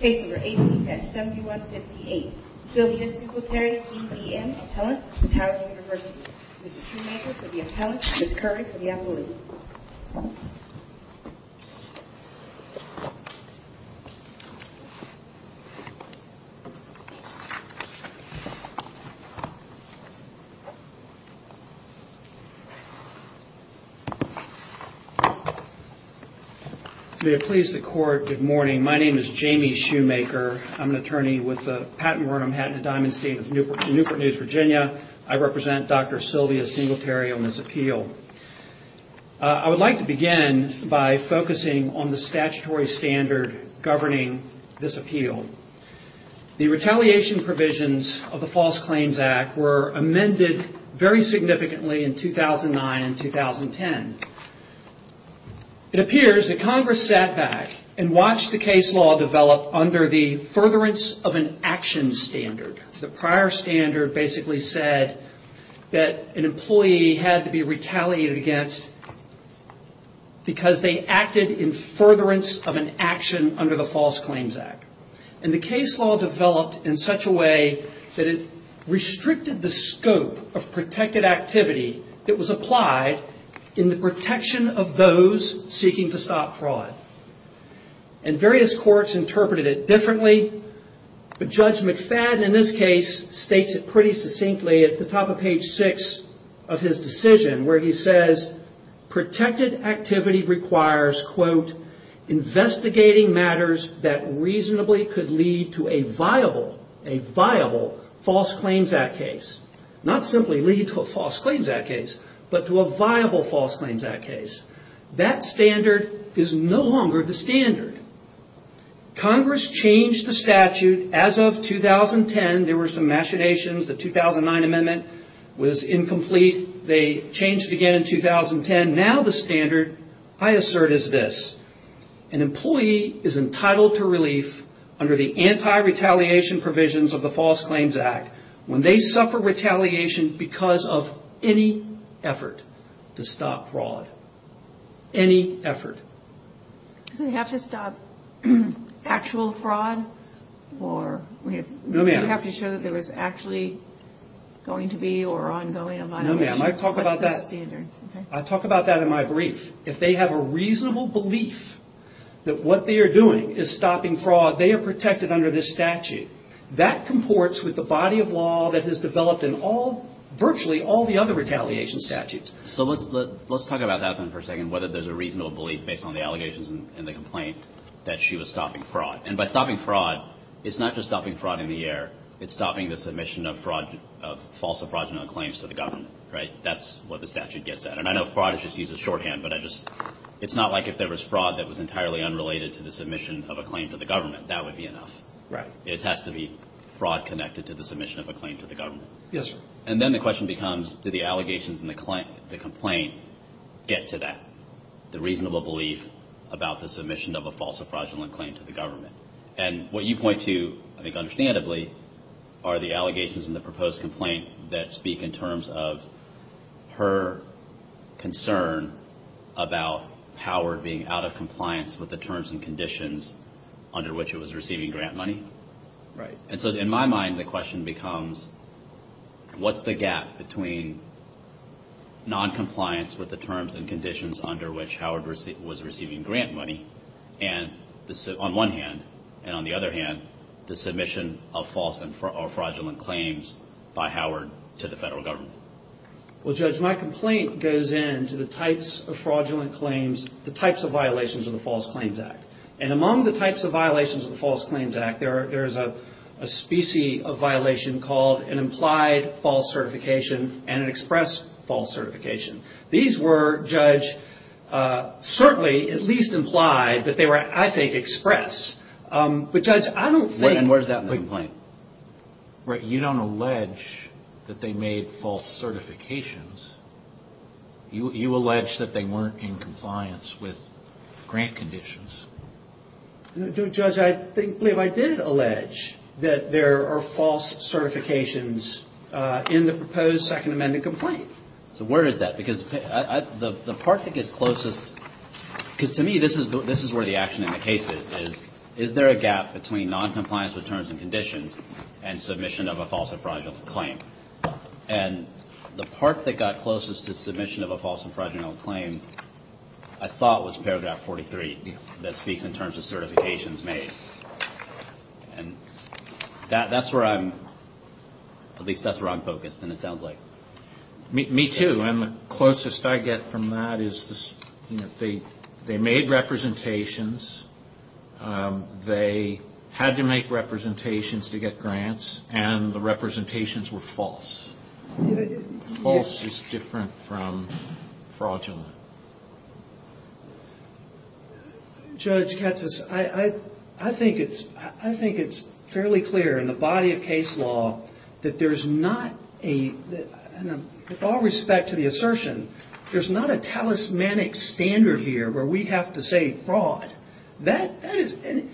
Case number 18-7158. Sylvia Singletary, D.V.M., appellant, v. Howard University. Mr. Shoemaker for the appellant, Ms. Curry for the appellant. May it please the Court, good morning. My name is Jamie Shoemaker. I'm an attorney with the Patent Board of Manhattan & Diamond State in Newport News, Virginia. I represent Dr. Sylvia Singletary on this appeal. I would like to begin by focusing on the statutory standard governing this appeal. The retaliation provisions of the False Claims Act were amended very significantly in 2009 and 2010. It appears that Congress sat back and watched the case law develop under the furtherance of an action standard. The prior standard basically said that an employee had to be retaliated against because they acted in furtherance of an action under the False Claims Act. The case law developed in such a way that it restricted the scope of protected activity that was applied in the protection of those seeking to stop fraud. Various courts interpreted it differently. Judge McFadden in this case states it pretty succinctly at the top of page 6 of his decision where he says, protected activity requires quote, investigating matters that reasonably could lead to a viable False Claims Act case. Not simply lead to a False Claims Act case, but to a viable False Claims Act case. That standard is no longer the standard. Congress changed the statute as of 2010. There were some machinations. The 2009 amendment was incomplete. They changed it again in 2010. Now the standard I assert is this. An employee is entitled to relief under the anti-retaliation provisions of the False Claims Act when they suffer retaliation because of any effort to stop actual fraud or we have to show that there is actually going to be or ongoing violation. I talk about that in my brief. If they have a reasonable belief that what they are doing is stopping fraud, they are protected under this statute. That comports with the body of law that has developed in all, virtually all the other retaliation statutes. So let's talk about that for a second, whether there is a reasonable belief based on the allegations and the complaint that she was stopping fraud. And by stopping fraud, it's not just stopping fraud in the air. It's stopping the submission of fraud, of false or fraudulent claims to the government, right? That's what the statute gets at. And I know fraud is just used as shorthand, but I just, it's not like if there was fraud that was entirely unrelated to the submission of a claim to the government. That would be enough. Right. It has to be fraud connected to the submission of a claim to the government. Yes, sir. And then the question becomes, do the allegations and the complaint get to that, the reasonable belief about the submission of a false or fraudulent claim to the government? And what you point to, I think understandably, are the allegations and the proposed complaint that speak in terms of her concern about Howard being out of compliance with the terms and conditions under which it was receiving grant money. And so in my mind, the question becomes, what's the gap between noncompliance with the terms and conditions under which Howard was receiving grant money, on one hand, and on the other hand, the submission of false or fraudulent claims by Howard to the federal government? Well, Judge, my complaint goes into the types of fraudulent claims, the types of violations of the False Claims Act. And among the types of violations of the False Claims Act, there's a species of violation called an implied false certification and an express false certification. These were, Judge, certainly at least implied, but they were, I think, express. But Judge, I don't think... And where's that in the complaint? Right. You don't allege that they made false certifications. You allege that they weren't in compliance with grant conditions. No, Judge, I think, I did allege that there are false certifications in the proposed Second Amendment complaint. So where is that? Because the part that gets closest... Because to me, this is where the action in the case is. Is there a gap between noncompliance with terms and conditions and submission of a false or fraudulent claim? And the part that got closest to submission of a false or fraudulent claim, I thought was paragraph 43 that speaks in terms of certifications made. And that's where I'm... At least that's where I'm focused, and it sounds like... Me too. And the closest I get from that is they made representations, they had to make representations to get grants, and the representations were false. False is different from fraudulent. Judge Katz, I think it's fairly clear in the body of case law that there's not a... With all respect to the assertion, there's not a talismanic standard here where we have to say fraud. And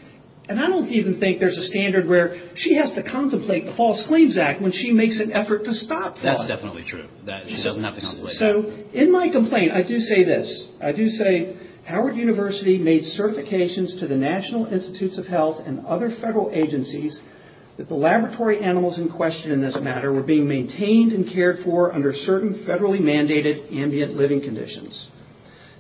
I don't even think there's a standard where she has to contemplate the False Claims Act when she makes an effort to stop fraud. That's definitely true. She doesn't have to contemplate that. So in my complaint, I do say this. I do say, Howard University made certifications to the National Institutes of Health and other federal agencies that the laboratory animals in question in this matter were being maintained and cared for under certain federally mandated ambient living conditions.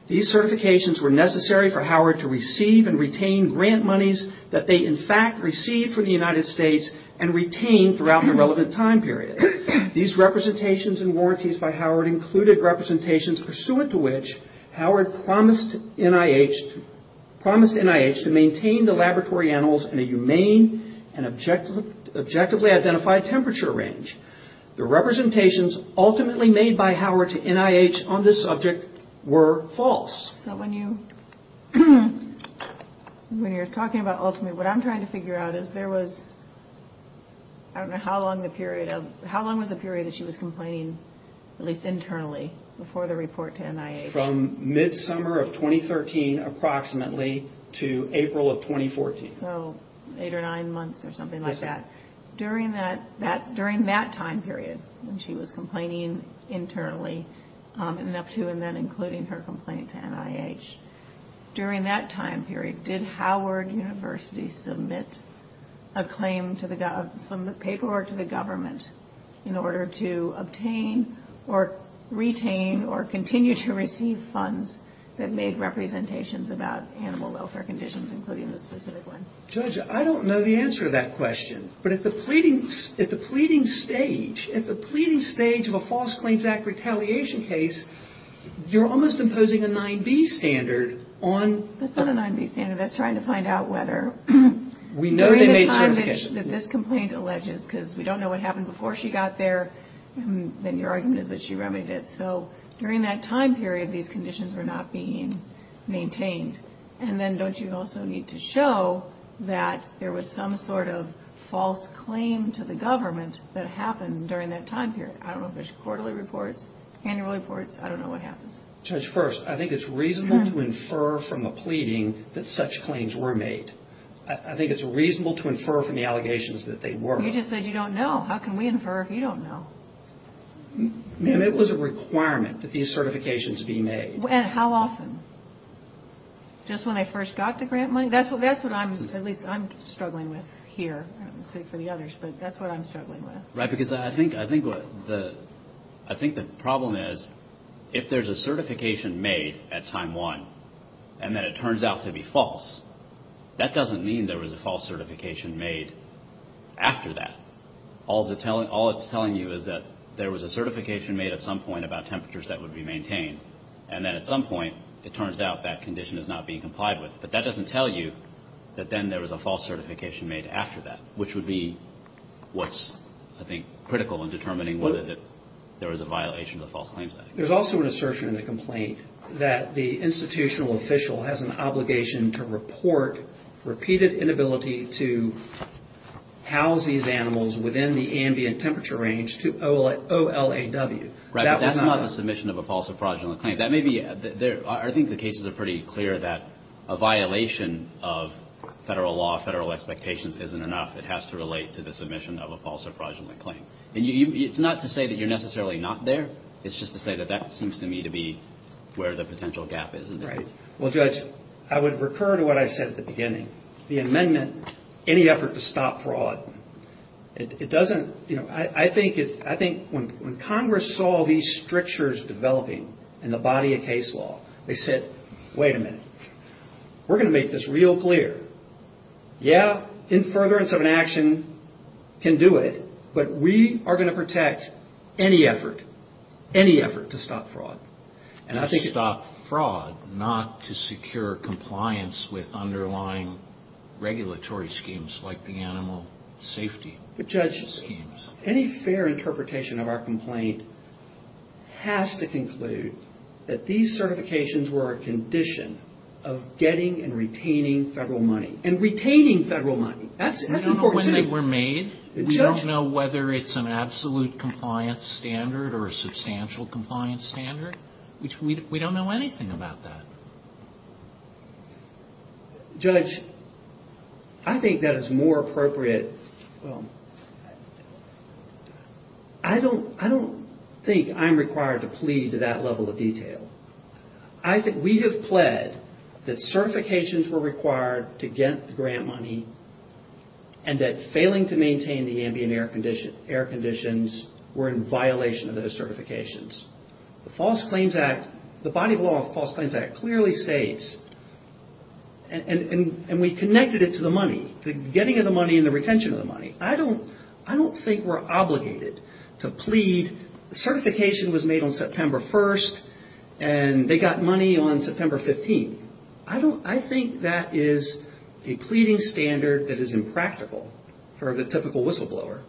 These certifications were necessary for Howard to receive and retain grant monies that they in fact received from the United States and retained throughout the relevant time period. These representations and specific representations pursuant to which Howard promised NIH to maintain the laboratory animals in a humane and objectively identified temperature range. The representations ultimately made by Howard to NIH on this subject were false. So when you're talking about ultimately, what I'm trying to figure out is there was... I don't know how long the period of... How long was the period that she was complaining, at least internally, before the report to NIH? From mid-summer of 2013 approximately to April of 2014. So eight or nine months or something like that. During that time period when she was complaining internally and up to and then including her complaint to NIH. During that time period, did Howard University submit a claim to the... Some of the paperwork to the government in order to obtain or retain or continue to receive funds that made representations about animal welfare conditions including this specific one? Judge, I don't know the answer to that question. But at the pleading stage, at the pleading stage of a False Claims Act retaliation case, you're almost imposing a 9B standard on... That's not a 9B standard. That's trying to find out whether... During the time that this complaint alleges, because we don't know what happened before she got there, then your argument is that she remedied it. So during that time period, these conditions were not being maintained. And then don't you also need to show that there was some sort of false claim to the government that happened during that time period? I don't know if there's quarterly reports, annual reports. I don't know what happens. Judge, first, I think it's reasonable to infer from the pleading that such I think it's reasonable to infer from the allegations that they were... You just said you don't know. How can we infer if you don't know? Ma'am, it was a requirement that these certifications be made. And how often? Just when they first got the grant money? That's what I'm, at least I'm struggling with here, for the others, but that's what I'm struggling with. Right, because I think the problem is if there's a certification made at time one, and then it turns out to be false, that doesn't mean there was a false certification made after that. All it's telling you is that there was a certification made at some point about temperatures that would be maintained. And then at some point, it turns out that condition is not being complied with. But that doesn't tell you that then there was a false certification made after that, which would be what's, I think, critical in determining whether there was a violation of the false claims. There's also an assertion in the complaint that the institutional official has an obligation to report repeated inability to house these animals within the ambient temperature range to OLAW. Right, but that's not the submission of a false or fraudulent claim. That may be... I think the cases are pretty clear that a violation of federal law, federal expectations isn't enough. It has to relate to the submission of a false or fraudulent claim. And it's not to say that you're necessarily not there. It's just to say that that seems to me to be where the potential gap is. Right. Well, Judge, I would recur to what I said at the beginning. The amendment, any effort to stop fraud, it doesn't... I think when Congress saw these strictures developing in the body of case law, they said, wait a minute, we're going to make this real clear. Yeah, in furtherance of an objection, we can do it, but we are going to protect any effort, any effort to stop fraud. To stop fraud, not to secure compliance with underlying regulatory schemes like the animal safety schemes. But Judge, any fair interpretation of our complaint has to conclude that these certifications were a condition of getting and retaining federal money. And retaining federal money. That's important to me. I don't know when they were made. We don't know whether it's an absolute compliance standard or a substantial compliance standard. We don't know anything about that. Judge, I think that is more appropriate. I don't think I'm required to plead to that level of detail. I think we have pled that certifications were required to get the grant money and that failing to maintain the ambient air conditions were in violation of those certifications. The False Claims Act, the body of law of the False Claims Act clearly states, and we connected it to the money, the getting of the money and the retention of the money. I don't think we're obligated to plead. The certification was made on September 1st and they got the money on September 15th. I think that is a pleading standard that is impractical for the typical whistleblower.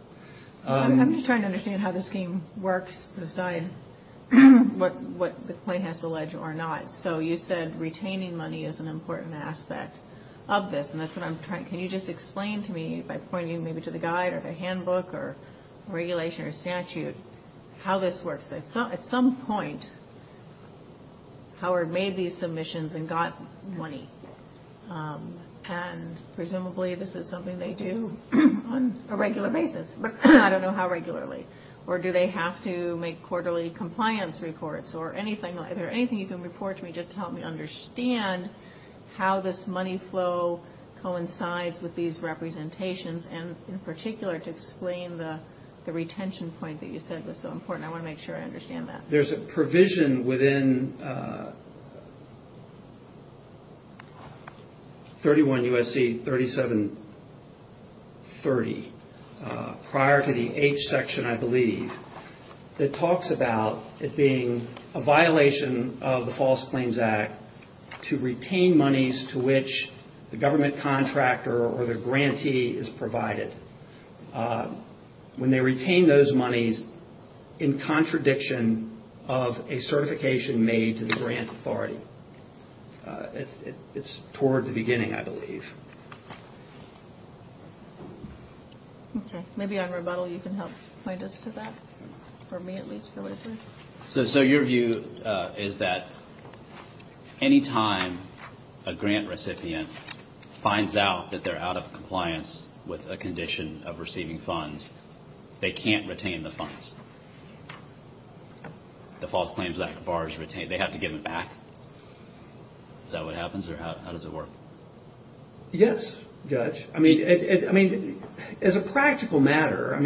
I'm just trying to understand how this scheme works aside what the plaintiff has to allege or not. So you said retaining money is an important aspect of this and that's what I'm trying. Can you just explain to me by pointing to the guide or the handbook or regulation or statute how this works? At some point, Howard made these submissions and got money. Presumably this is something they do on a regular basis. I don't know how regularly. Or do they have to make quarterly compliance reports or anything like that. Anything you can report to me just to help me understand how this money flow coincides with these representations and in particular to explain the retention point that you said was so important. I want to make sure I understand that. There's a provision within 31 U.S.C. 3730, prior to the H section I believe, that talks about it being a violation of the False Claims Act to retain monies to which the government contractor or the grantee is provided. When they retain those monies in contradiction of a certification made to the grant authority. It's toward the beginning I believe. Okay. Maybe on rebuttal you can help point us to that. For me at least. So your view is that any time a grant recipient finds out that they're out of compliance with a condition of receiving funds, they can't retain the funds. The False Claims Act bars retain. They have to give it back. Is that what happens or how does it work? Yes, Judge. As a practical matter,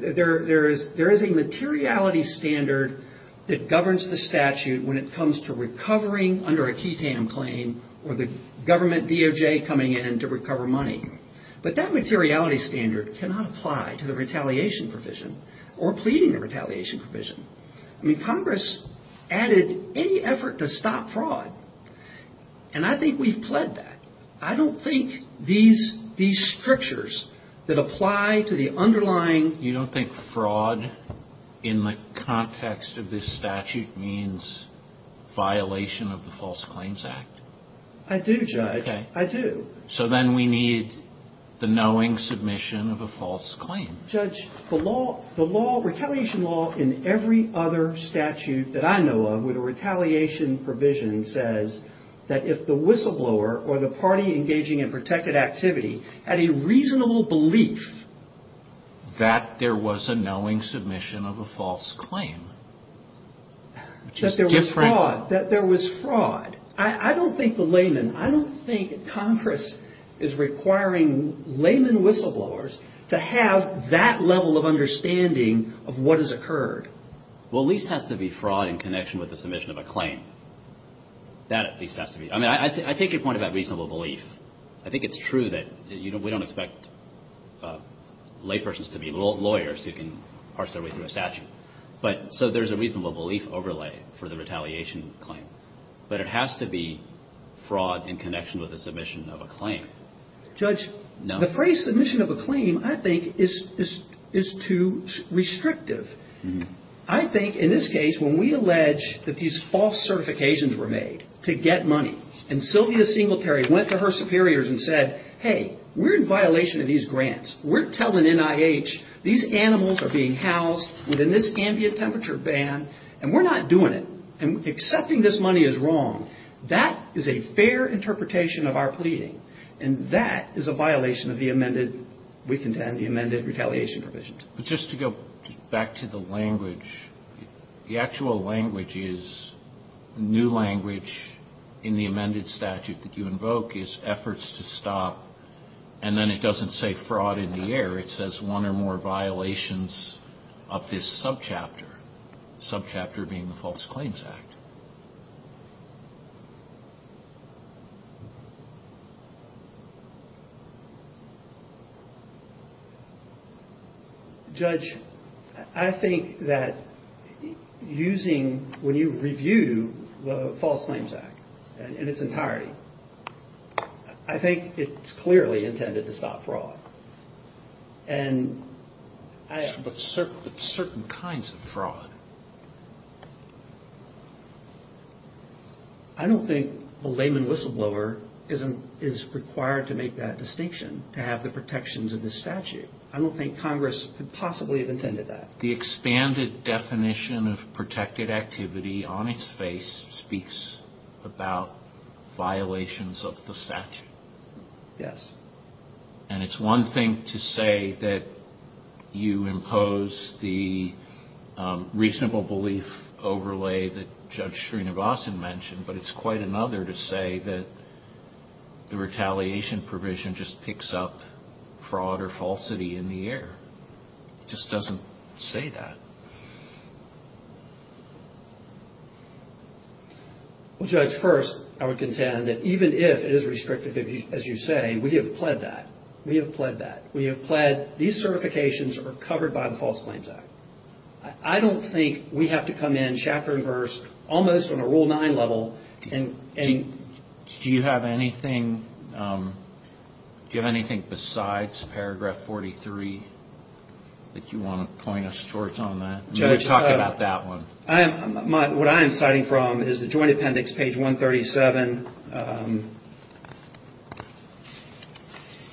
there is a materiality standard that governs the statute when it comes to recovering under a QTAM claim or the government DOJ coming in to recover money. But that materiality standard cannot apply to the retaliation provision or pleading the retaliation provision. Congress added any effort to stop fraud. And I think we've pled that. I don't think these strictures that apply to the underlying... You don't think fraud in the context of this statute means violation of the False Claims Act? I do, Judge. I do. So then we need the knowing submission of a false claim. Judge, the law, the retaliation law in every other statute that I know of with a retaliation provision says that if the whistleblower or the party engaging in protected activity had a reasonable belief... That there was a knowing submission of a false claim. That there was fraud. I don't think the layman, I don't think Congress is requiring layman whistleblowers to have that level of understanding of what has occurred. Well, at least it has to be fraud in connection with the submission of a claim. That at least has to be. I take your point about reasonable belief. I think it's true that we don't expect laypersons to be lawyers who can parse their way through a statute. So there's a reasonable belief overlay for the retaliation claim. But it has to be fraud in connection with the submission of a claim. Judge, the phrase submission of a claim I think is too restrictive. I think in this case when we allege that these false certifications were made to get money, and Sylvia Singletary went to her superiors and said, hey, we're in violation of these grants. We're telling NIH these animals are being housed within this ambient temperature ban, and we're not doing it. And accepting this money is wrong. That is a fair interpretation of our pleading. And that is a violation of the amended, we contend, the amended retaliation provisions. But just to go back to the language, the actual language is, new language in the amended statute that you invoke is efforts to stop, and then it doesn't say fraud in the air. It says one or more violations of this subchapter. Subchapter being the False Claims Act. Judge, I think that using, when you review the False Claims Act in its entirety, I think it's clearly intended to stop fraud. But certain kinds of fraud. I don't think the layman whistleblower is required to make that distinction, to have the protections of this statute. I don't think Congress could possibly have intended that. The expanded definition of protected activity on its face speaks about violations of the statute. Yes. And it's one thing to say that you impose the reasonable belief overlay that Judge Srinivasan mentioned, but it's quite another to say that the retaliation provision just picks up fraud or falsity in the air. It just doesn't say that. Well, Judge, first, I would contend that even if it is restrictive, as you say, we have pled that. We have pled that. We have pled these certifications are covered by the False Claims Act. I don't think we have to come in, chapter and verse, almost on a Rule 9 level. Do you have anything besides Paragraph 43 that you want to point us towards on that? We've talked about that one. What I am citing from is the Joint Appendix, page 137.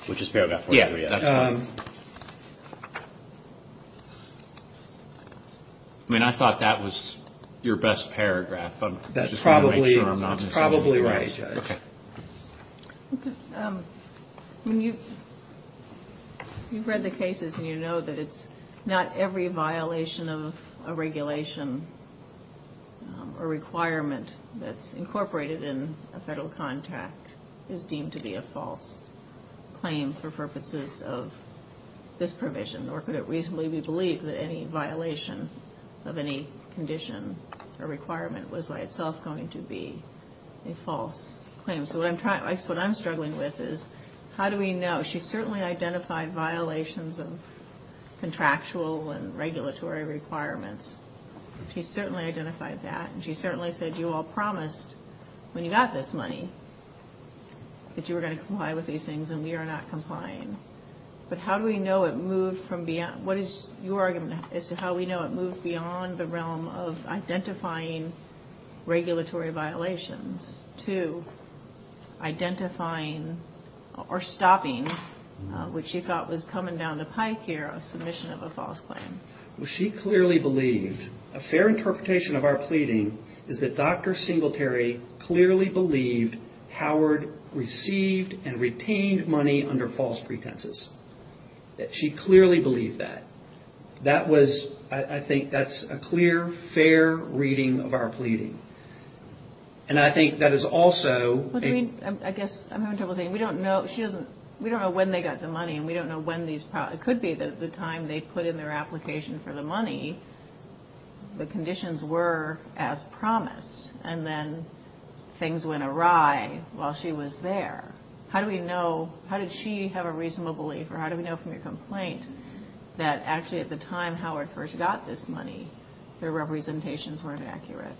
Which is Paragraph 43. Yes. I mean, I thought that was your best paragraph. That's probably right, Judge. Okay. You've read the cases, and you know that it's not every violation of a regulation or requirement that's incorporated in a federal contract is deemed to be a false claim for purposes of this provision. Nor could it reasonably be believed that any violation of any condition or requirement was by itself going to be a false claim. So what I'm struggling with is how do we know? She certainly identified violations of contractual and regulatory requirements. She certainly identified that. And she certainly said you all promised when you got this money that you were going to comply with these things. And we are not complying. But how do we know it moved from beyond? What is your argument as to how we know it moved beyond the realm of identifying regulatory violations to identifying or stopping what she thought was coming down the pike here, a submission of a false claim? Well, she clearly believed. A fair interpretation of our pleading is that Dr. Singletary clearly believed Howard received and retained money under false pretenses. She clearly believed that. I think that's a clear, fair reading of our pleading. And I think that is also – I guess I'm having trouble seeing. We don't know when they got the money, and we don't know when these – the conditions were as promised, and then things went awry while she was there. How do we know – how did she have a reasonable belief, or how do we know from your complaint, that actually at the time Howard first got this money, their representations weren't accurate?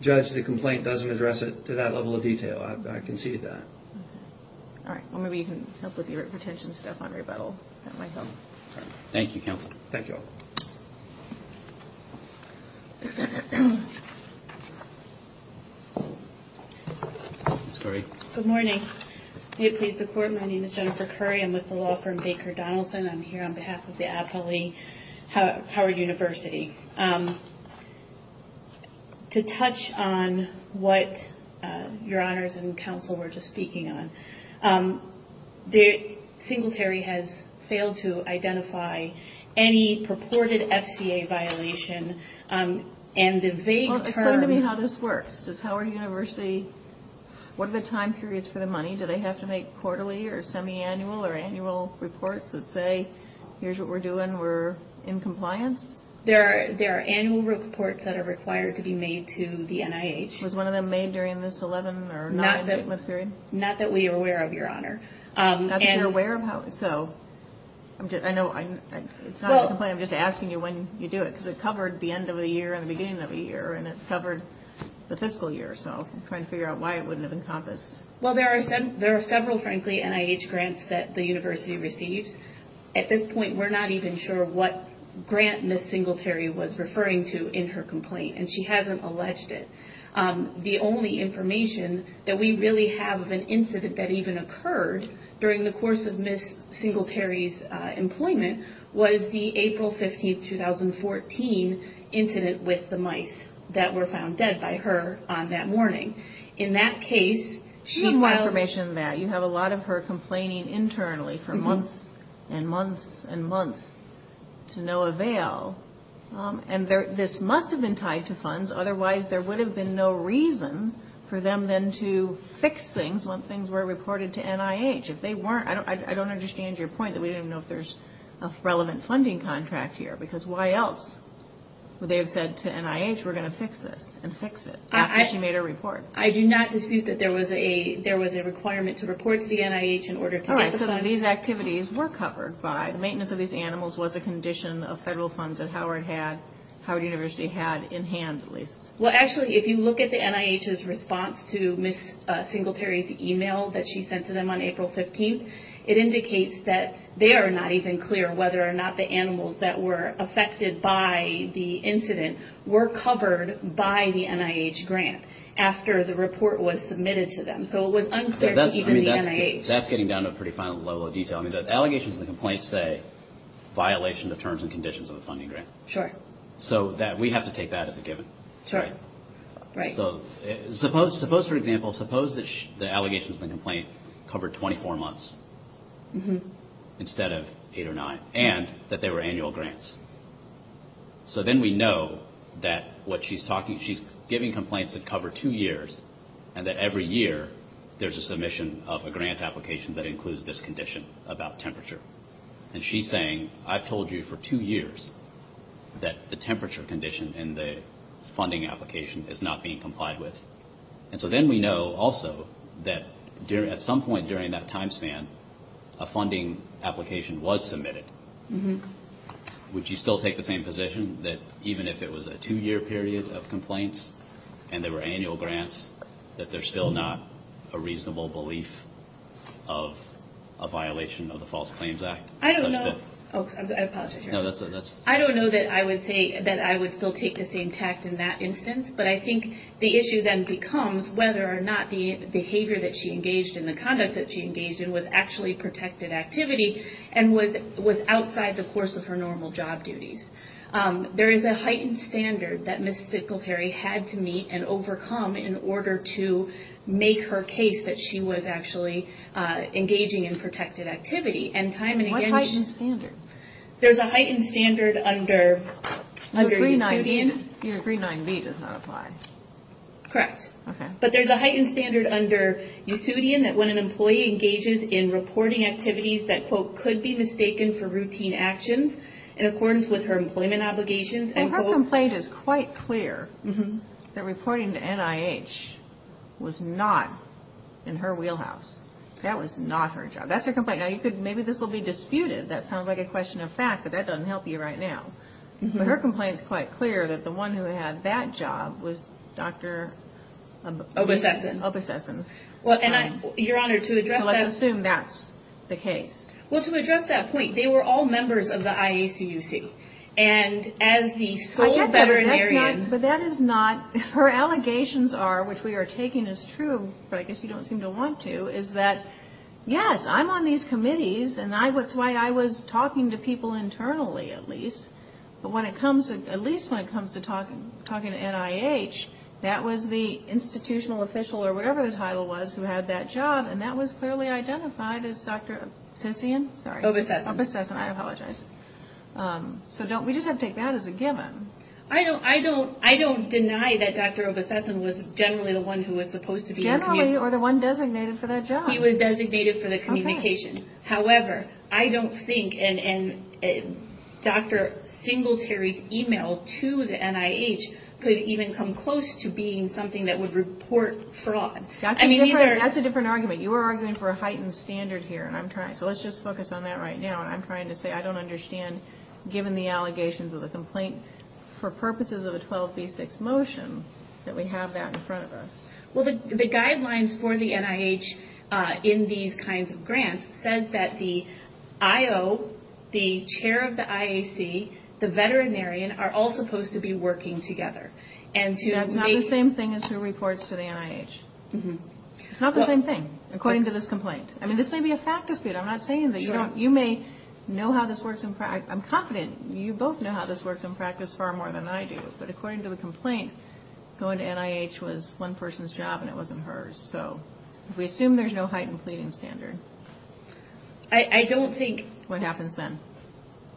Judge, the complaint doesn't address it to that level of detail. I can see that. All right. Well, maybe you can help with your retention stuff on rebuttal. That might help. Thank you, Counsel. Thank you all. Ms. Curry. Good morning. May it please the Court, my name is Jennifer Curry. I'm with the law firm Baker Donaldson. I'm here on behalf of the appellee, Howard University. To touch on what Your Honors and Counsel were just speaking on, Singletary has failed to identify any purported FCA violation, and the vague term – Well, explain to me how this works. Does Howard University – what are the time periods for the money? Do they have to make quarterly or semiannual or annual reports that say, here's what we're doing, we're in compliance? There are annual reports that are required to be made to the NIH. Was one of them made during this 11 or 9-week period? Not that we are aware of, Your Honor. Not that you're aware of? I know it's not a complaint, I'm just asking you when you do it, because it covered the end of the year and the beginning of the year, and it covered the fiscal year. So I'm trying to figure out why it wouldn't have encompassed. Well, there are several, frankly, NIH grants that the university receives. At this point, we're not even sure what grant Ms. Singletary was referring to in her complaint, and she hasn't alleged it. The only information that we really have of an incident that even occurred during the course of Ms. Singletary's employment was the April 15, 2014, incident with the mice that were found dead by her on that morning. In that case, she filed – and months and months to no avail. And this must have been tied to funds, otherwise there would have been no reason for them then to fix things when things were reported to NIH. I don't understand your point that we don't even know if there's a relevant funding contract here, because why else would they have said to NIH, we're going to fix this and fix it after she made her report? I do not dispute that there was a requirement to report to the NIH in order to get the funds. The maintenance of these activities were covered by – the maintenance of these animals was a condition of federal funds that Howard University had in hand, at least. Well, actually, if you look at the NIH's response to Ms. Singletary's email that she sent to them on April 15, it indicates that they are not even clear whether or not the animals that were affected by the incident were covered by the NIH grant after the report was submitted to them. So it was unclear to even the NIH. That's getting down to a pretty fine level of detail. I mean, the allegations and the complaints say, violation of terms and conditions of a funding grant. Sure. So we have to take that as a given. Sure. Right. So suppose, for example, suppose the allegations and the complaint covered 24 months instead of eight or nine, and that they were annual grants. So then we know that what she's talking – she's giving complaints that cover two years, and that every year there's a submission of a grant application that includes this condition about temperature. And she's saying, I've told you for two years that the temperature condition in the funding application is not being complied with. And so then we know also that at some point during that time span, a funding application was submitted. Would you still take the same position that even if it was a two-year period of complaints and they were annual grants, that there's still not a reasonable belief of a violation of the False Claims Act? I don't know. Oh, I apologize. No, that's okay. I don't know that I would say that I would still take the same tact in that instance, but I think the issue then becomes whether or not the behavior that she engaged in, the conduct that she engaged in, was actually protected activity and was outside the course of her normal job duties. There is a heightened standard that Ms. Sickletary had to meet and overcome in order to make her case that she was actually engaging in protected activity. And time and again she... What heightened standard? There's a heightened standard under Yusudian. Your 3.9b does not apply. Correct. Okay. But there's a heightened standard under Yusudian that when an employee engages in reporting activities that, quote, in accordance with her employment obligations, and, quote... Well, her complaint is quite clear that reporting to NIH was not in her wheelhouse. That was not her job. That's her complaint. Now, maybe this will be disputed. That sounds like a question of fact, but that doesn't help you right now. But her complaint is quite clear that the one who had that job was Dr.... Obesessen. Obesessen. Your Honor, to address that... So let's assume that's the case. Well, to address that point, they were all members of the IACUC, and as the sole veterinarian... But that is not... Her allegations are, which we are taking as true, but I guess you don't seem to want to, is that, yes, I'm on these committees, and that's why I was talking to people internally at least, but at least when it comes to talking to NIH, that was the institutional official or whatever the title was who had that job, and that was clearly identified as Dr. Obesessen. Obesessen. Obesessen. I apologize. So we just have to take that as a given. I don't deny that Dr. Obesessen was generally the one who was supposed to be... Generally, or the one designated for that job. He was designated for the communication. However, I don't think Dr. Singletary's email to the NIH could even come close to being something that would report fraud. That's a different argument. You are arguing for a heightened standard here, and I'm trying... So let's just focus on that right now, and I'm trying to say I don't understand, given the allegations of the complaint, for purposes of a 12b6 motion that we have that in front of us. Well, the guidelines for the NIH in these kinds of grants says that the I.O., the chair of the IAC, the veterinarian, are all supposed to be working together. That's not the same thing as who reports to the NIH. It's not the same thing, according to this complaint. I mean, this may be a fact dispute. I'm not saying that you don't... You may know how this works in practice. I'm confident you both know how this works in practice far more than I do, but according to the complaint, going to NIH was one person's job and it wasn't hers. So we assume there's no heightened pleading standard. I don't think... What happens then?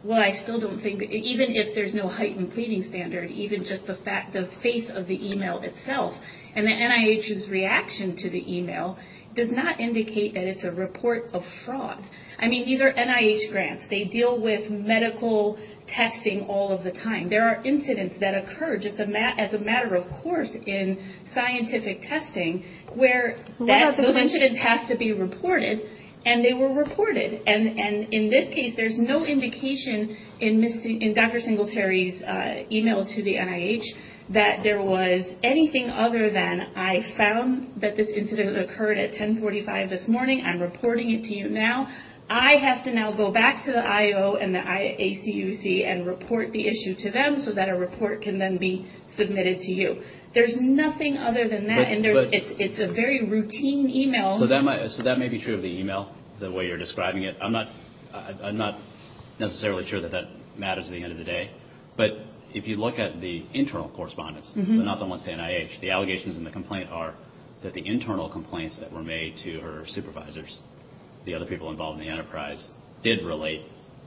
Well, I still don't think... Even if there's no heightened pleading standard, even just the face of the email itself, and the NIH's reaction to the email does not indicate that it's a report of fraud. I mean, these are NIH grants. They deal with medical testing all of the time. There are incidents that occur just as a matter of course in scientific testing where those incidents have to be reported, and they were reported. And in this case, there's no indication in Dr. Singletary's email to the NIH that there was anything other than, I found that this incident occurred at 1045 this morning. I'm reporting it to you now. I have to now go back to the IO and the ACUC and report the issue to them so that a report can then be submitted to you. There's nothing other than that, and it's a very routine email. So that may be true of the email, the way you're describing it. I'm not necessarily sure that that matters at the end of the day. But if you look at the internal correspondence, so not the ones to NIH, the allegations in the complaint are that the internal complaints that were made to her supervisors, the other people involved in the enterprise, did relate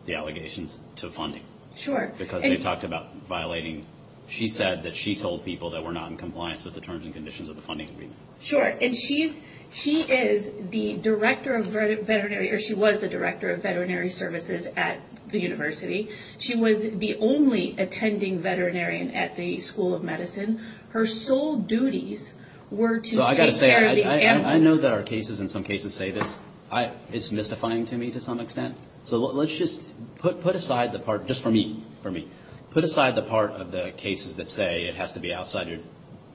the allegations to funding. Sure. Because they talked about violating... She said that she told people that were not in compliance with the terms and conditions of the funding agreement. Sure. And she is the director of veterinary, or she was the director of veterinary services at the university. She was the only attending veterinarian at the School of Medicine. Her sole duties were to take care of these animals. So I've got to say, I know there are cases and some cases say this. It's mystifying to me to some extent. So let's just put aside the part, just for me, for me, put aside the part of the cases that say it has to be outside your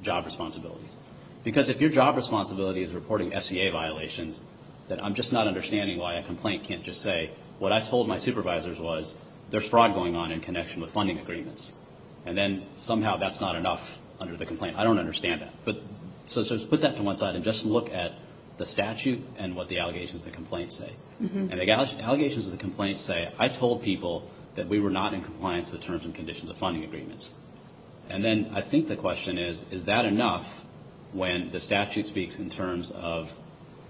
job responsibilities. Because if your job responsibility is reporting FCA violations, then I'm just not understanding why a complaint can't just say, what I told my supervisors was, there's fraud going on in connection with funding agreements. And then somehow that's not enough under the complaint. I don't understand that. So let's put that to one side and just look at the statute and what the allegations of the complaint say. And the allegations of the complaint say, I told people that we were not in compliance with terms and conditions of funding agreements. And then I think the question is, is that enough when the statute speaks in terms of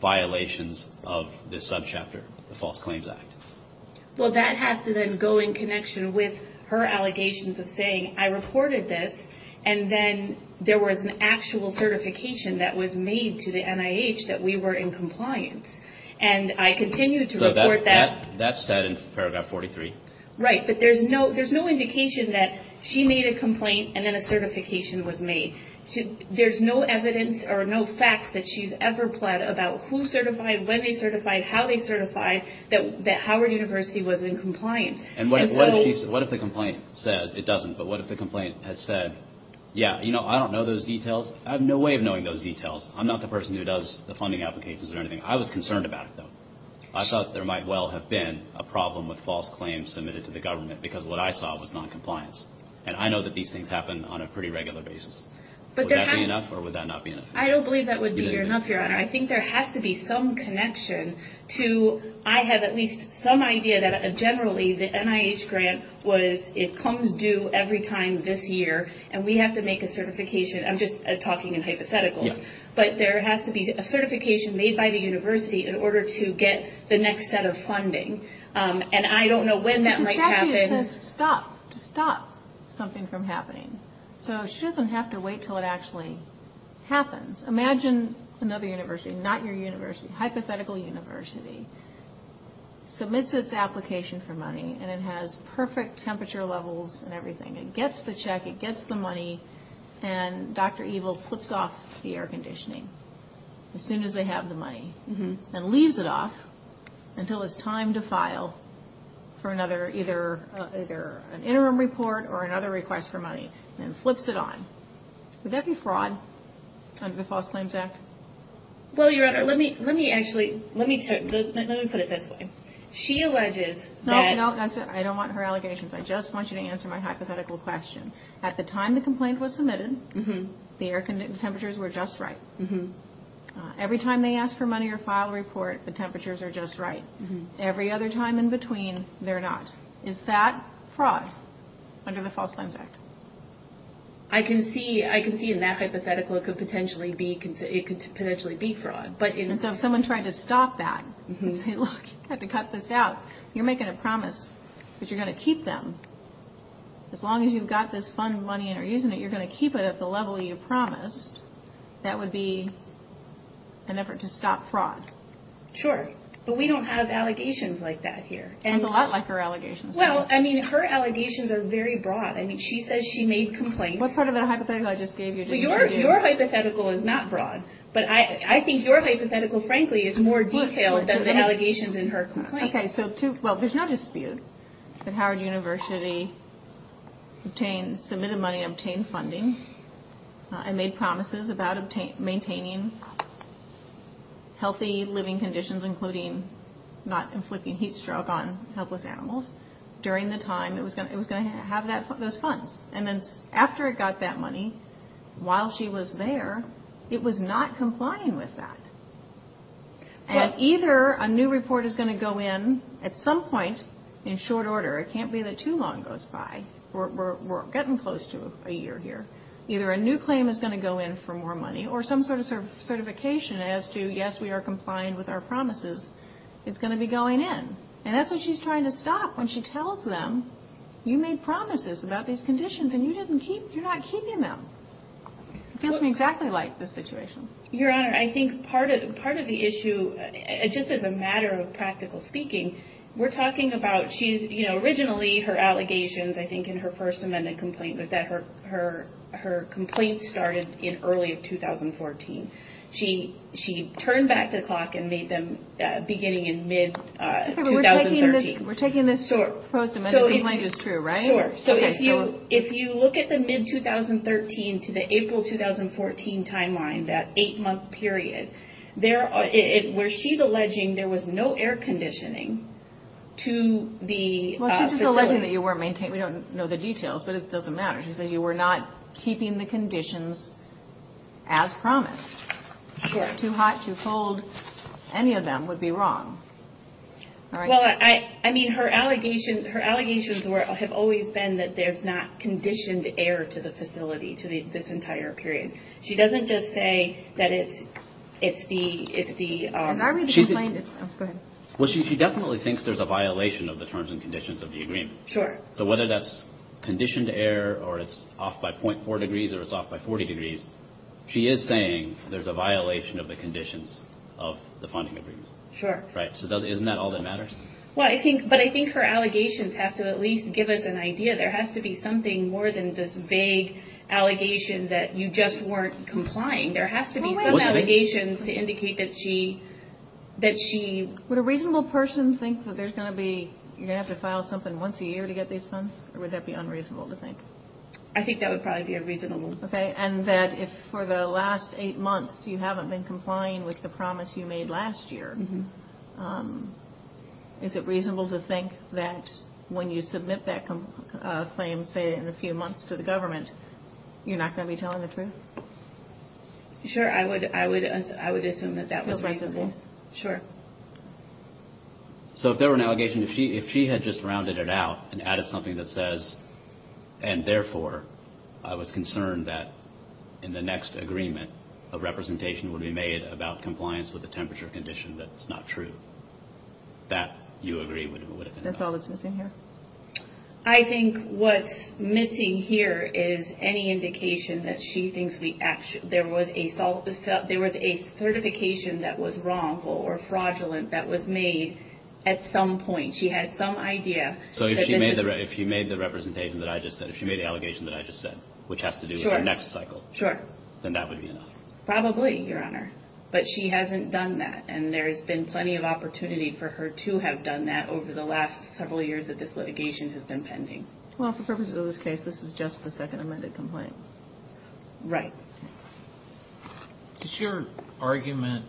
violations of this subchapter, the False Claims Act? Well, that has to then go in connection with her allegations of saying, I reported this and then there was an actual certification that was made to the NIH that we were in compliance. And I continued to report that. So that's said in paragraph 43. Right. But there's no indication that she made a complaint and then a certification was made. There's no evidence or no facts that she's ever pled about who certified, when they certified, how they certified, that Howard University was in compliance. And what if the complaint says, it doesn't, but what if the complaint had said, yeah, you know, I don't know those details. I have no way of knowing those details. I'm not the person who does the funding applications or anything. I was concerned about it, though. I thought there might well have been a problem with false claims submitted to the government because what I saw was noncompliance. And I know that these things happen on a pretty regular basis. Would that be enough or would that not be enough? I don't believe that would be enough, Your Honor. I think there has to be some connection to, I have at least some idea that generally the NIH grant was, it comes due every time this year and we have to make a certification. I'm just talking in hypotheticals. But there has to be a certification made by the university in order to get the next set of funding. And I don't know when that might happen. The statute says stop, to stop something from happening. So she doesn't have to wait until it actually happens. Imagine another university, not your university, hypothetical university, submits its application for money and it has perfect temperature levels and everything. It gets the check. It gets the money. And Dr. Evil flips off the air conditioning as soon as they have the money and leaves it off until it's time to file for either an interim report or another request for money and flips it on. Would that be fraud under the False Claims Act? Well, Your Honor, let me put it this way. She alleges that... No, I don't want her allegations. I just want you to answer my hypothetical question. At the time the complaint was submitted, the air conditioning temperatures were just right. Every time they ask for money or file a report, the temperatures are just right. Every other time in between, they're not. Is that fraud under the False Claims Act? I can see in that hypothetical it could potentially be fraud. And so if someone tried to stop that and say, look, you have to cut this out, you're making a promise that you're going to keep them. As long as you've got this fund money and are using it, you're going to keep it at the level you promised. That would be an effort to stop fraud. Sure. But we don't have allegations like that here. It sounds a lot like her allegations. Well, I mean, her allegations are very broad. I mean, she says she made complaints. What part of that hypothetical I just gave you? Your hypothetical is not broad. But I think your hypothetical, frankly, is more detailed than the allegations in her complaint. Well, there's no dispute that Howard University obtained, submitted money and obtained funding and made promises about maintaining healthy living conditions, including not inflicting heat stroke on helpless animals, during the time it was going to have those funds. And then after it got that money, while she was there, it was not complying with that. And either a new report is going to go in at some point in short order. It can't be that too long goes by. We're getting close to a year here. Either a new claim is going to go in for more money or some sort of certification as to, yes, we are complying with our promises. It's going to be going in. And that's what she's trying to stop when she tells them, you made promises about these conditions and you're not keeping them. It feels to me exactly like this situation. Your Honor, I think part of the issue, just as a matter of practical speaking, we're talking about, you know, originally her allegations, I think, in her First Amendment complaint was that her complaints started in early 2014. She turned back the clock and made them beginning in mid-2013. We're taking this First Amendment complaint as true, right? Sure. So if you look at the mid-2013 to the April 2014 timeline, that eight-month period, where she's alleging there was no air conditioning to the facility. Well, she's just alleging that you weren't maintaining. We don't know the details, but it doesn't matter. She says you were not keeping the conditions as promised. Sure. Too hot, too cold, any of them would be wrong. Well, I mean, her allegations have always been that there's not conditioned air to the facility, to this entire period. She doesn't just say that it's the – Has I read the complaint? Go ahead. Well, she definitely thinks there's a violation of the terms and conditions of the agreement. Sure. So whether that's conditioned air or it's off by 0.4 degrees or it's off by 40 degrees, she is saying there's a violation of the conditions of the funding agreement. Sure. Right, so isn't that all that matters? Well, I think – but I think her allegations have to at least give us an idea. There has to be something more than this vague allegation that you just weren't complying. There has to be some allegations to indicate that she – Would a reasonable person think that there's going to be – you're going to have to file something once a year to get these funds, or would that be unreasonable to think? I think that would probably be unreasonable. Okay. And that if for the last eight months you haven't been complying with the promise you made last year, is it reasonable to think that when you submit that claim, say, in a few months to the government, you're not going to be telling the truth? Sure. I would assume that that was reasonable. Sure. So if there were an allegation, if she had just rounded it out and added something that says, and therefore I was concerned that in the next agreement, a representation would be made about compliance with a temperature condition that's not true, that you agree would have been enough? That's all that's missing here. I think what's missing here is any indication that she thinks we – there was a certification that was wrongful or fraudulent that was made at some point. She has some idea that this is – So if she made the representation that I just said, if she made the allegation that I just said, which has to do with the next cycle, then that would be enough? Probably, Your Honor. But she hasn't done that, and there has been plenty of opportunity for her to have done that over the last several years that this litigation has been pending. Well, for purposes of this case, this is just the second amended complaint. Right. Does your argument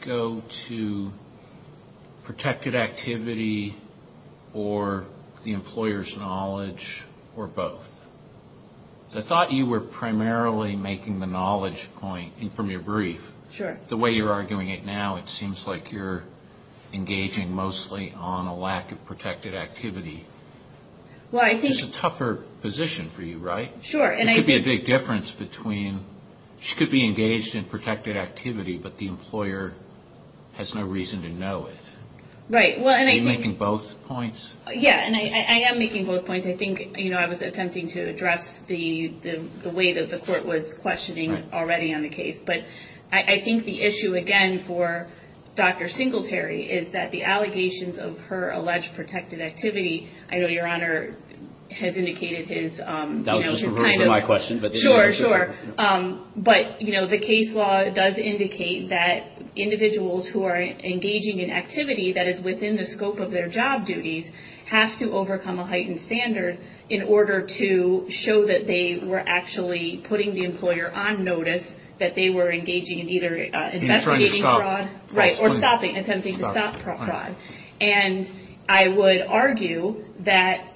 go to protected activity or the employer's knowledge or both? I thought you were primarily making the knowledge point from your brief. Sure. The way you're arguing it now, it seems like you're engaging mostly on a lack of protected activity, which is a tougher position for you, right? Sure. There could be a big difference between she could be engaged in protected activity, but the employer has no reason to know it. Right. Are you making both points? Yeah, and I am making both points. I think I was attempting to address the way that the court was questioning already on the case. But I think the issue, again, for Dr. Singletary is that the allegations of her alleged protected activity – I know Your Honor has indicated his – Sure, sure. But, you know, the case law does indicate that individuals who are engaging in activity that is within the scope of their job duties have to overcome a heightened standard in order to show that they were actually putting the employer on notice, that they were engaging in either investigating fraud – And trying to stop fraud. Right, or stopping, attempting to stop fraud. And I would argue that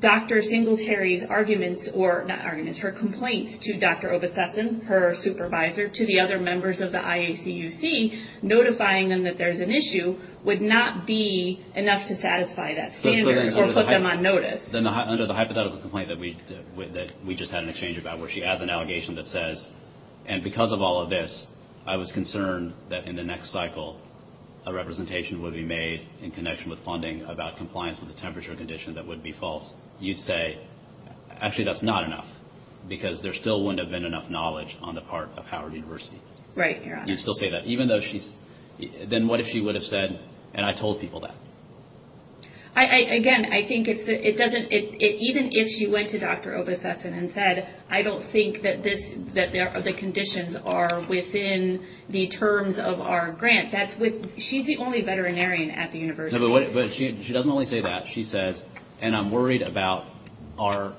Dr. Singletary's arguments – or, not arguments, her complaints to Dr. Obasesson, her supervisor, to the other members of the IACUC, notifying them that there's an issue would not be enough to satisfy that standard or put them on notice. Then under the hypothetical complaint that we just had an exchange about, where she has an allegation that says, and because of all of this I was concerned that in the next cycle a representation would be made in connection with funding about compliance with the temperature condition that would be false, you'd say, actually that's not enough. Because there still wouldn't have been enough knowledge on the part of Howard University. Right, Your Honor. You'd still say that. Even though she's – Then what if she would have said, and I told people that. Again, I think it doesn't – even if she went to Dr. Obasesson and said, I don't think that the conditions are within the terms of our grant. She's the only veterinarian at the university. She doesn't only say that. She says, and I'm worried about our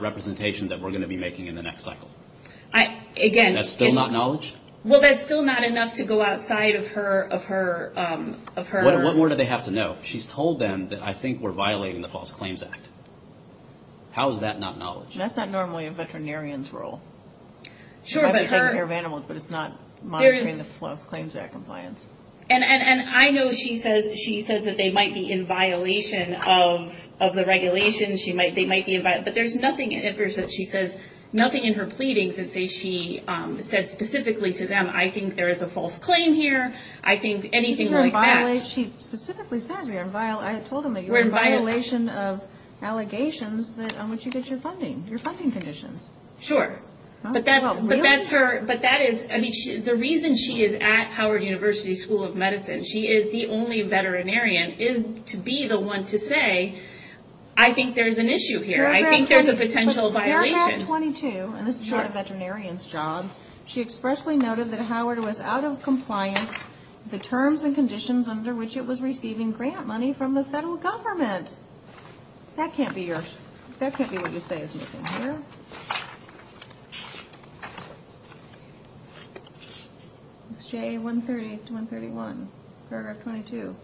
representation that we're going to be making in the next cycle. Again – That's still not knowledge? Well, that's still not enough to go outside of her – What more do they have to know? She's told them that I think we're violating the False Claims Act. How is that not knowledge? That's not normally a veterinarian's role. She might be taking care of animals, but it's not monitoring the False Claims Act compliance. And I know she says that they might be in violation of the regulations. They might be – but there's nothing in her pleadings that says she said specifically to them, I think there is a false claim here. I think anything like that – She specifically says we're in violation of allegations on which you get your funding, your funding conditions. Sure. But that's her – But that is – I mean, the reason she is at Howard University School of Medicine, she is the only veterinarian, is to be the one to say, I think there's an issue here. I think there's a potential violation. But paragraph 22, and this is sort of a veterinarian's job, she expressly noted that Howard was out of compliance with the terms and conditions under which it was receiving grant money from the federal government. That can't be your – that can't be what you say is missing here. It's J138 to 131, paragraph 22.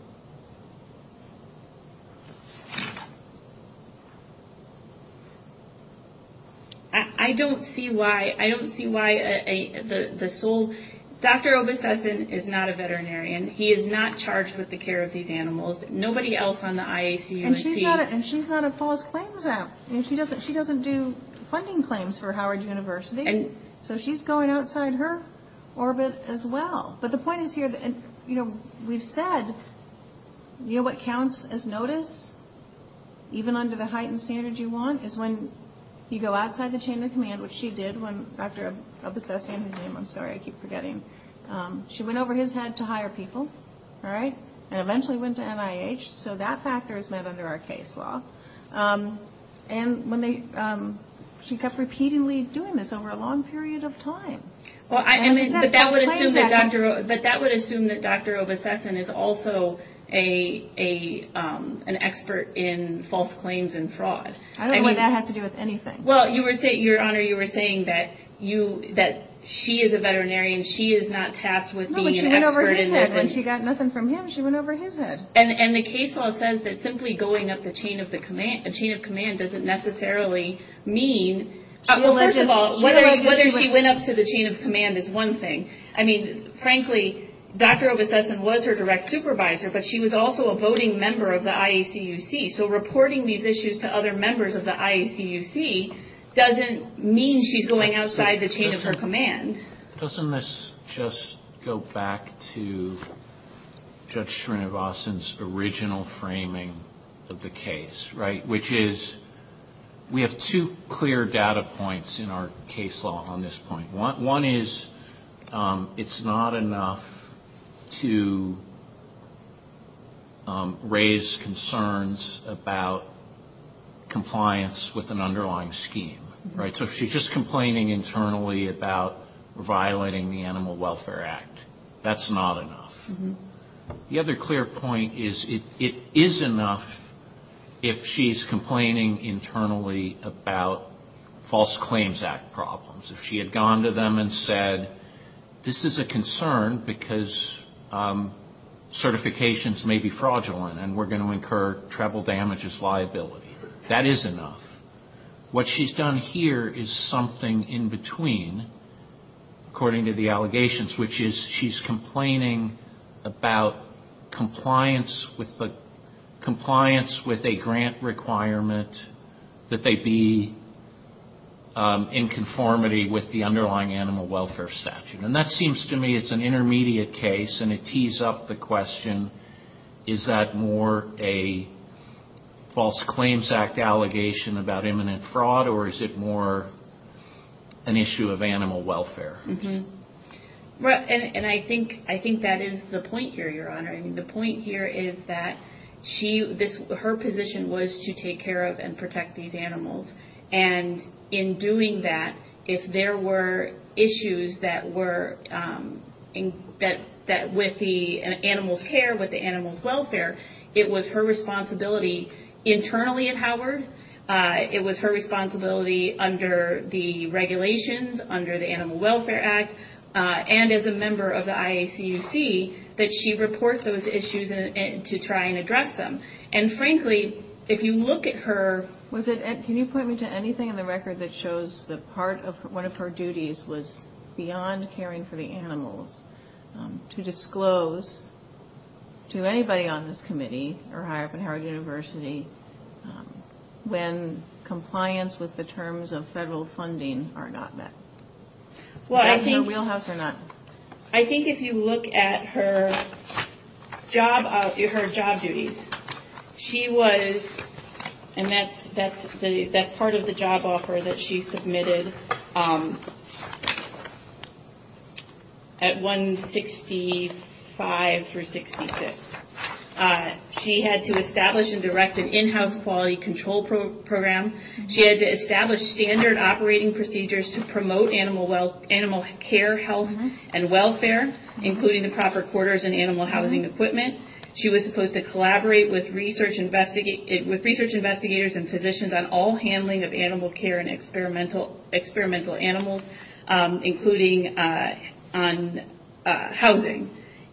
I don't see why – I don't see why the sole – Dr. Obstessin is not a veterinarian. He is not charged with the care of these animals. Nobody else on the IACUC – And she's not a false claims act. I mean, she doesn't do funding claims for Howard University. So she's going outside her orbit as well. But the point is here, you know, we've said, you know what counts as notice, even under the heightened standards you want, is when you go outside the chain of command, which she did when Dr. Obstessin – She went over his head to hire people, all right, and eventually went to NIH. So that factor is met under our case law. And when they – she kept repeatedly doing this over a long period of time. But that would assume that Dr. – But that would assume that Dr. Obstessin is also an expert in false claims and fraud. I don't believe that has to do with anything. Well, Your Honor, you were saying that she is a veterinarian. She is not tasked with being an expert in this. When she got nothing from him, she went over his head. And the case law says that simply going up the chain of command doesn't necessarily mean – Well, first of all, whether she went up to the chain of command is one thing. I mean, frankly, Dr. Obstessin was her direct supervisor, but she was also a voting member of the IACUC. So reporting these issues to other members of the IACUC doesn't mean she's going outside the chain of her command. Doesn't this just go back to Judge Srinivasan's original framing of the case, right? Which is, we have two clear data points in our case law on this point. One is, it's not enough to raise concerns about compliance with an underlying scheme, right? So if she's just complaining internally about violating the Animal Welfare Act, that's not enough. The other clear point is, it is enough if she's complaining internally about False Claims Act problems. If she had gone to them and said, this is a concern because certifications may be fraudulent and we're going to incur treble damages liability. That is enough. What she's done here is something in between, according to the allegations, which is she's complaining about compliance with a grant requirement that they be in conformity with the underlying animal welfare statute. And that seems to me it's an intermediate case, and it tees up the question, is that more a False Claims Act allegation about imminent fraud, or is it more an issue of animal welfare? And I think that is the point here, Your Honor. The point here is that her position was to take care of and protect these animals. And in doing that, if there were issues with the animals' care, with the animals' welfare, it was her responsibility internally at Howard, it was her responsibility under the regulations, under the Animal Welfare Act, and as a member of the IACUC, that she report those issues to try and address them. And frankly, if you look at her... Can you point me to anything in the record that shows that part of one of her duties was beyond caring for the animals, to disclose to anybody on this committee, or higher up in Howard University, when compliance with the terms of federal funding are not met? Was that in her wheelhouse or not? I think if you look at her job duties, she was... And that's part of the job offer that she submitted at 165 through 66. She had to establish and direct an in-house quality control program. She had to establish standard operating procedures to promote animal care, health, and welfare, including the proper quarters and animal housing equipment. She was supposed to collaborate with research investigators and physicians on all handling of animal care and experimental animals, including on housing.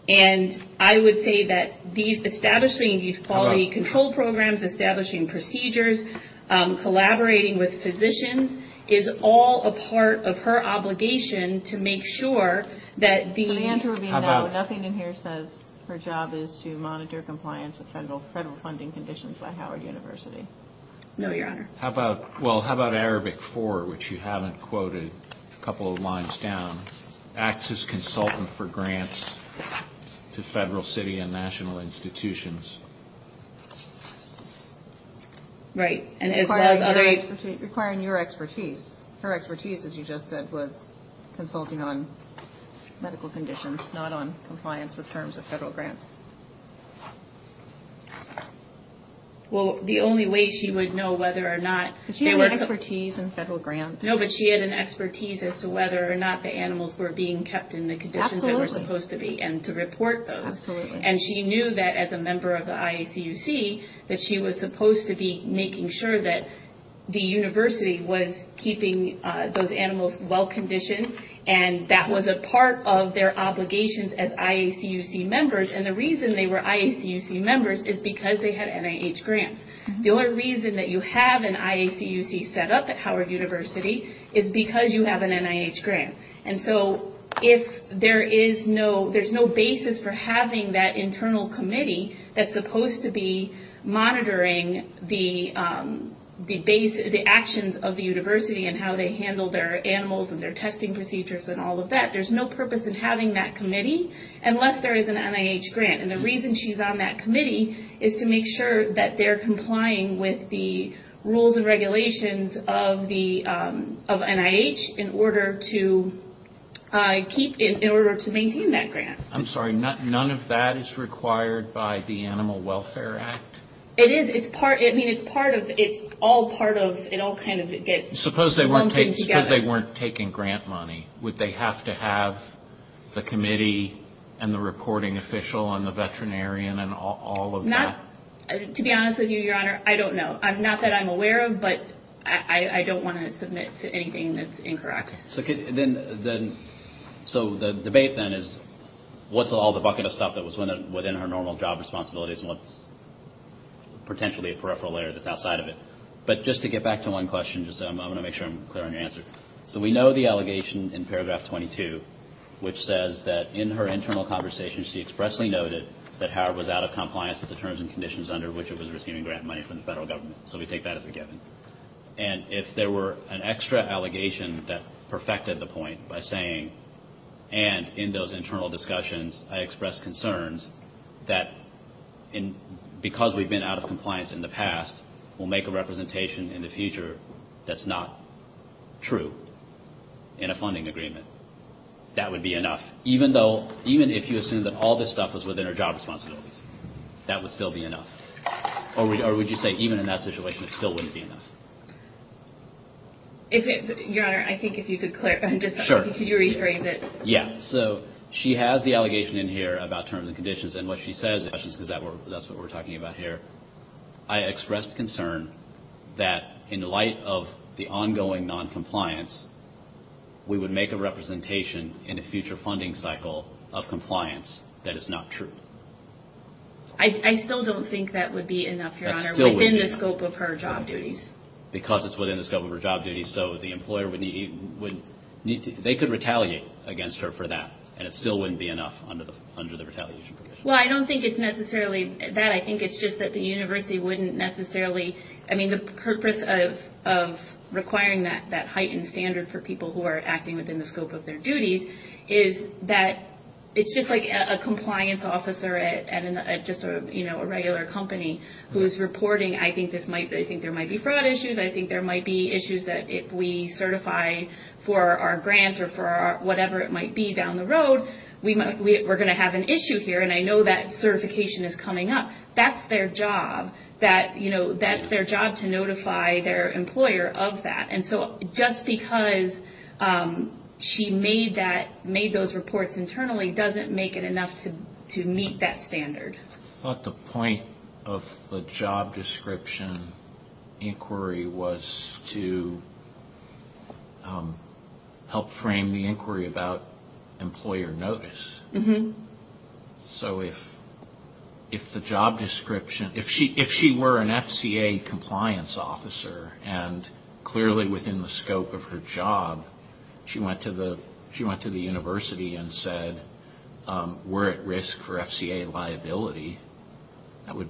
And I would say that establishing these quality control programs, establishing procedures, collaborating with physicians, is all a part of her obligation to make sure that the... She was supposed to monitor compliance with federal funding conditions by Howard University. No, Your Honor. Well, how about Arabic IV, which you haven't quoted a couple of lines down? Acts as consultant for grants to federal, city, and national institutions. Right. And as far as other... Requiring your expertise. Her expertise, as you just said, was consulting on medical conditions, not on compliance with terms of federal grants. Well, the only way she would know whether or not... She had an expertise in federal grants. No, but she had an expertise as to whether or not the animals were being kept in the conditions they were supposed to be and to report those. Absolutely. And she knew that, as a member of the IACUC, that she was supposed to be making sure that the university was keeping those animals well conditioned, and that was a part of their obligations as IACUC members. And the reason they were IACUC members is because they had NIH grants. The only reason that you have an IACUC set up at Howard University is because you have an NIH grant. And so if there is no... There's no basis for having that internal committee that's supposed to be monitoring the actions of the university and how they handle their animals and their testing procedures and all of that. There's no purpose in having that committee unless there is an NIH grant. And the reason she's on that committee is to make sure that they're complying with the rules and regulations of NIH in order to maintain that grant. I'm sorry. None of that is required by the Animal Welfare Act? It is. It's all part of... It all kind of gets lumped in together. Suppose they weren't taking grant money. Would they have to have the committee and the reporting official and the veterinarian and all of that? To be honest with you, Your Honor, I don't know. Not that I'm aware of, but I don't want to submit to anything that's incorrect. So the debate, then, is what's all the bucket of stuff that was within her normal job responsibilities and what's potentially a peripheral layer that's outside of it. But just to get back to one question, I'm going to make sure I'm clear on your answer. So we know the allegation in paragraph 22, which says that in her internal conversations, she expressly noted that Howard was out of compliance with the terms and conditions under which it was receiving grant money from the federal government. So we take that as a given. And if there were an extra allegation that perfected the point by saying, and in those internal discussions, I expressed concerns that because we've been out of compliance in the past, we'll make a representation in the future that's not true in a funding agreement, that would be enough. Even if you assume that all this stuff was within her job responsibilities, that would still be enough. Or would you say even in that situation, it still wouldn't be enough? Your Honor, I think if you could rephrase it. Yeah, so she has the allegation in here about terms and conditions. And what she says is, because that's what we're talking about here, I expressed concern that in light of the ongoing noncompliance, we would make a representation in a future funding cycle of compliance that is not true. I still don't think that would be enough, Your Honor, within the scope of her job duties. Because it's within the scope of her job duties, so the employer would need to, they could retaliate against her for that, and it still wouldn't be enough under the retaliation provision. Well, I don't think it's necessarily that. I think it's just that the university wouldn't necessarily, I mean, the purpose of requiring that heightened standard for people who are acting within the scope of their duties is that it's just like a compliance officer at just a regular company who is reporting, I think there might be fraud issues, I think there might be issues that if we certify for our grant or for whatever it might be down the road, we're going to have an issue here, and I know that certification is coming up. That's their job, that, you know, that's their job to notify their employer of that. And so just because she made those reports internally doesn't make it enough to meet that standard. I thought the point of the job description inquiry was to help frame the inquiry about employer notice. So if the job description, if she were an FCA compliance officer, and clearly within the scope of her job, she went to the university and said, we're at risk for FCA liability, that would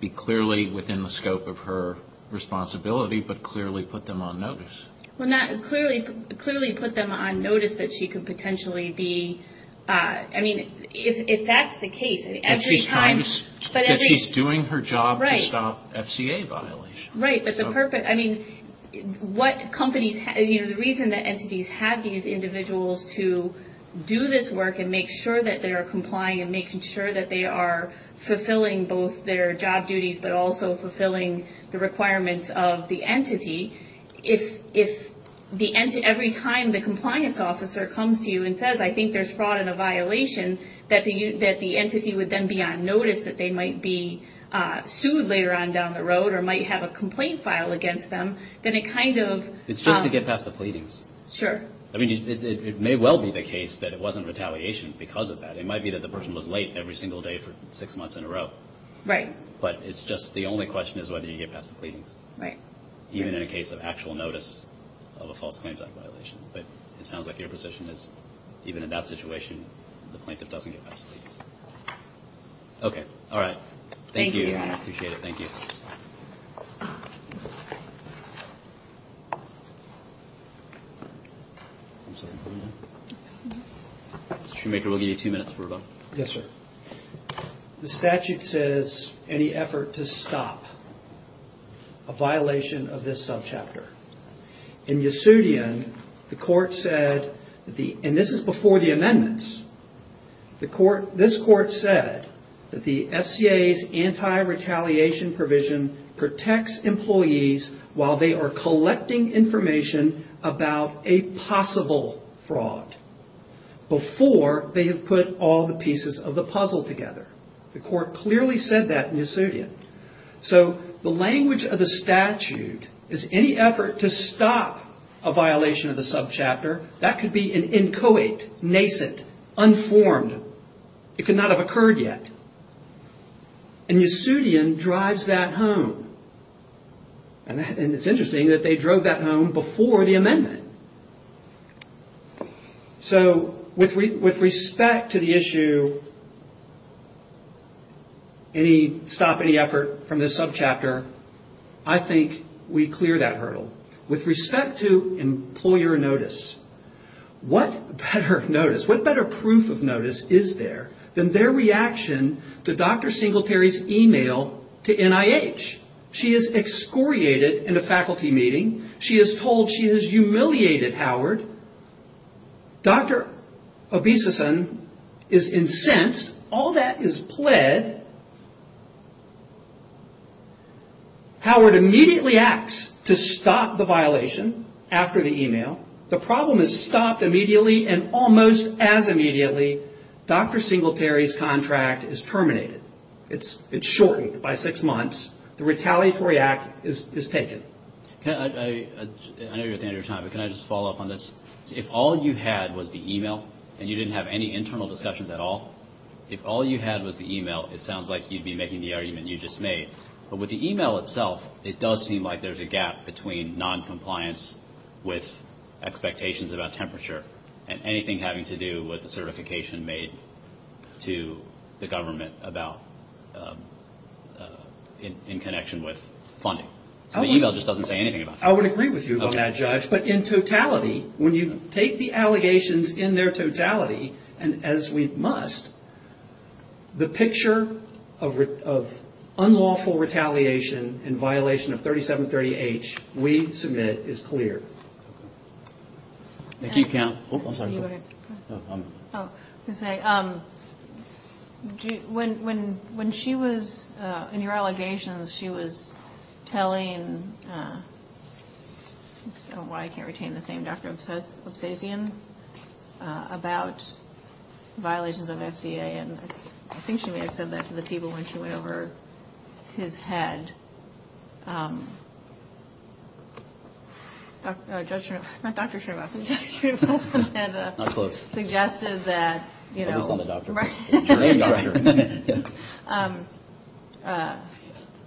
be clearly within the scope of her responsibility, but clearly put them on notice. Well, not clearly, clearly put them on notice that she could potentially be, I mean, if that's the case, every time. And she's trying to, she's doing her job to stop FCA violations. Right, but the purpose, I mean, what companies, you know, the reason that entities have these individuals to do this work and make sure that they are complying and making sure that they are fulfilling both their job duties but also fulfilling the requirements of the entity, if every time the compliance officer comes to you and says, I think there's fraud and a violation, that the entity would then be on notice that they might be sued later on down the road or might have a complaint file against them, then it kind of... It's just to get past the pleadings. Sure. I mean, it may well be the case that it wasn't retaliation because of that. It might be that the person was late every single day for six months in a row. Right. But it's just, the only question is whether you get past the pleadings. Right. Even in a case of actual notice of a false claims act violation. But it sounds like your position is, even in that situation, the plaintiff doesn't get past the pleadings. Okay, all right. Thank you. I appreciate it. Thank you. Mr. Shoemaker, we'll give you two minutes before we're done. Yes, sir. The statute says, any effort to stop a violation of this subchapter. In Yasudian, the court said, and this is before the amendments, this court said that the FCA's anti-retaliation provision protects employees while they are collecting information about a possible fraud, before they have put all the pieces of the puzzle together. The court clearly said that in Yasudian. So, the language of the statute is, any effort to stop a violation of the subchapter, that could be an inchoate, nascent, unformed. It could not have occurred yet. And Yasudian drives that home. And it's interesting that they drove that home before the amendment. So, with respect to the issue, any stop, any effort from this subchapter, I think we clear that hurdle. With respect to employer notice, what better notice, what better proof of notice is there than their reaction to Dr. Singletary's email to NIH? She is excoriated in a faculty meeting. She is told she has humiliated Howard. Dr. Obisussen is incensed. All that is pled. Howard immediately acts to stop the violation after the email. The problem is stopped immediately, and almost as immediately, Dr. Singletary's contract is terminated. It's shortened by six months. The retaliatory act is taken. I know you're at the end of your time, but can I just follow up on this? If all you had was the email, and you didn't have any internal discussions at all, if all you had was the email, it sounds like you'd be making the argument you just made. But with the email itself, it does seem like there's a gap between noncompliance with expectations about temperature and anything having to do with the certification made to the government about in connection with funding. So the email just doesn't say anything about that. I would agree with you about that, Judge. But in totality, when you take the allegations in their totality, and as we must, the picture of unlawful retaliation in violation of 3730H we submit is clear. Thank you, Counsel. When she was in your allegations, she was telling, I don't know why I can't retain this name, Dr. Absazian about violations of SCA, and I think she may have said that to the people when she went over his head. Not Dr. Srinivasan. Not close. Suggested that, you know. At least I'm a doctor. Your name is a doctor.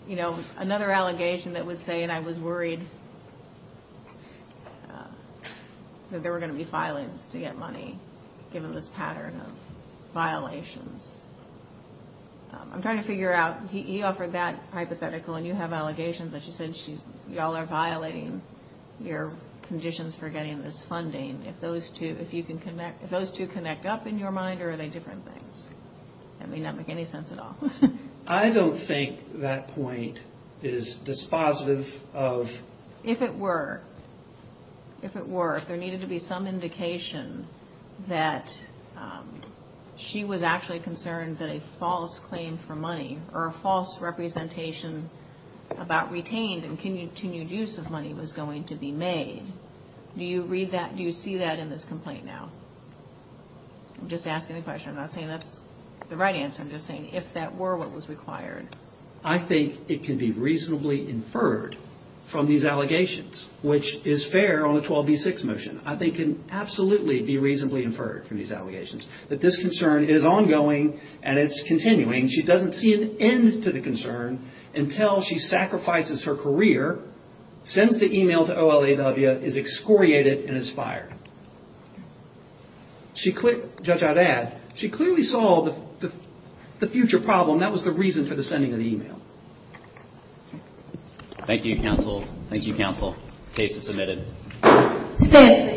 You know, another allegation that would say, and I was worried that there were going to be filings to get money, given this pattern of violations. I'm trying to figure out, he offered that hypothetical and you have allegations, but she said you all are violating your conditions for getting this funding. If those two connect up in your mind, or are they different things? That may not make any sense at all. I don't think that point is dispositive of. If it were, if it were, if there needed to be some indication that she was actually concerned that a false claim for money or a false representation about retained and continued use of money was going to be made. Do you read that? Do you see that in this complaint now? I'm just asking the question. I'm not saying that's the right answer. I'm just saying if that were what was required. I think it can be reasonably inferred from these allegations, which is fair on a 12B6 motion. I think it can absolutely be reasonably inferred from these allegations. That this concern is ongoing and it's continuing. She doesn't see an end to the concern until she sacrifices her career, judge I'd add. She clearly saw the future problem. That was the reason for the sending of the email. Thank you, counsel. Thank you, counsel. Case is submitted.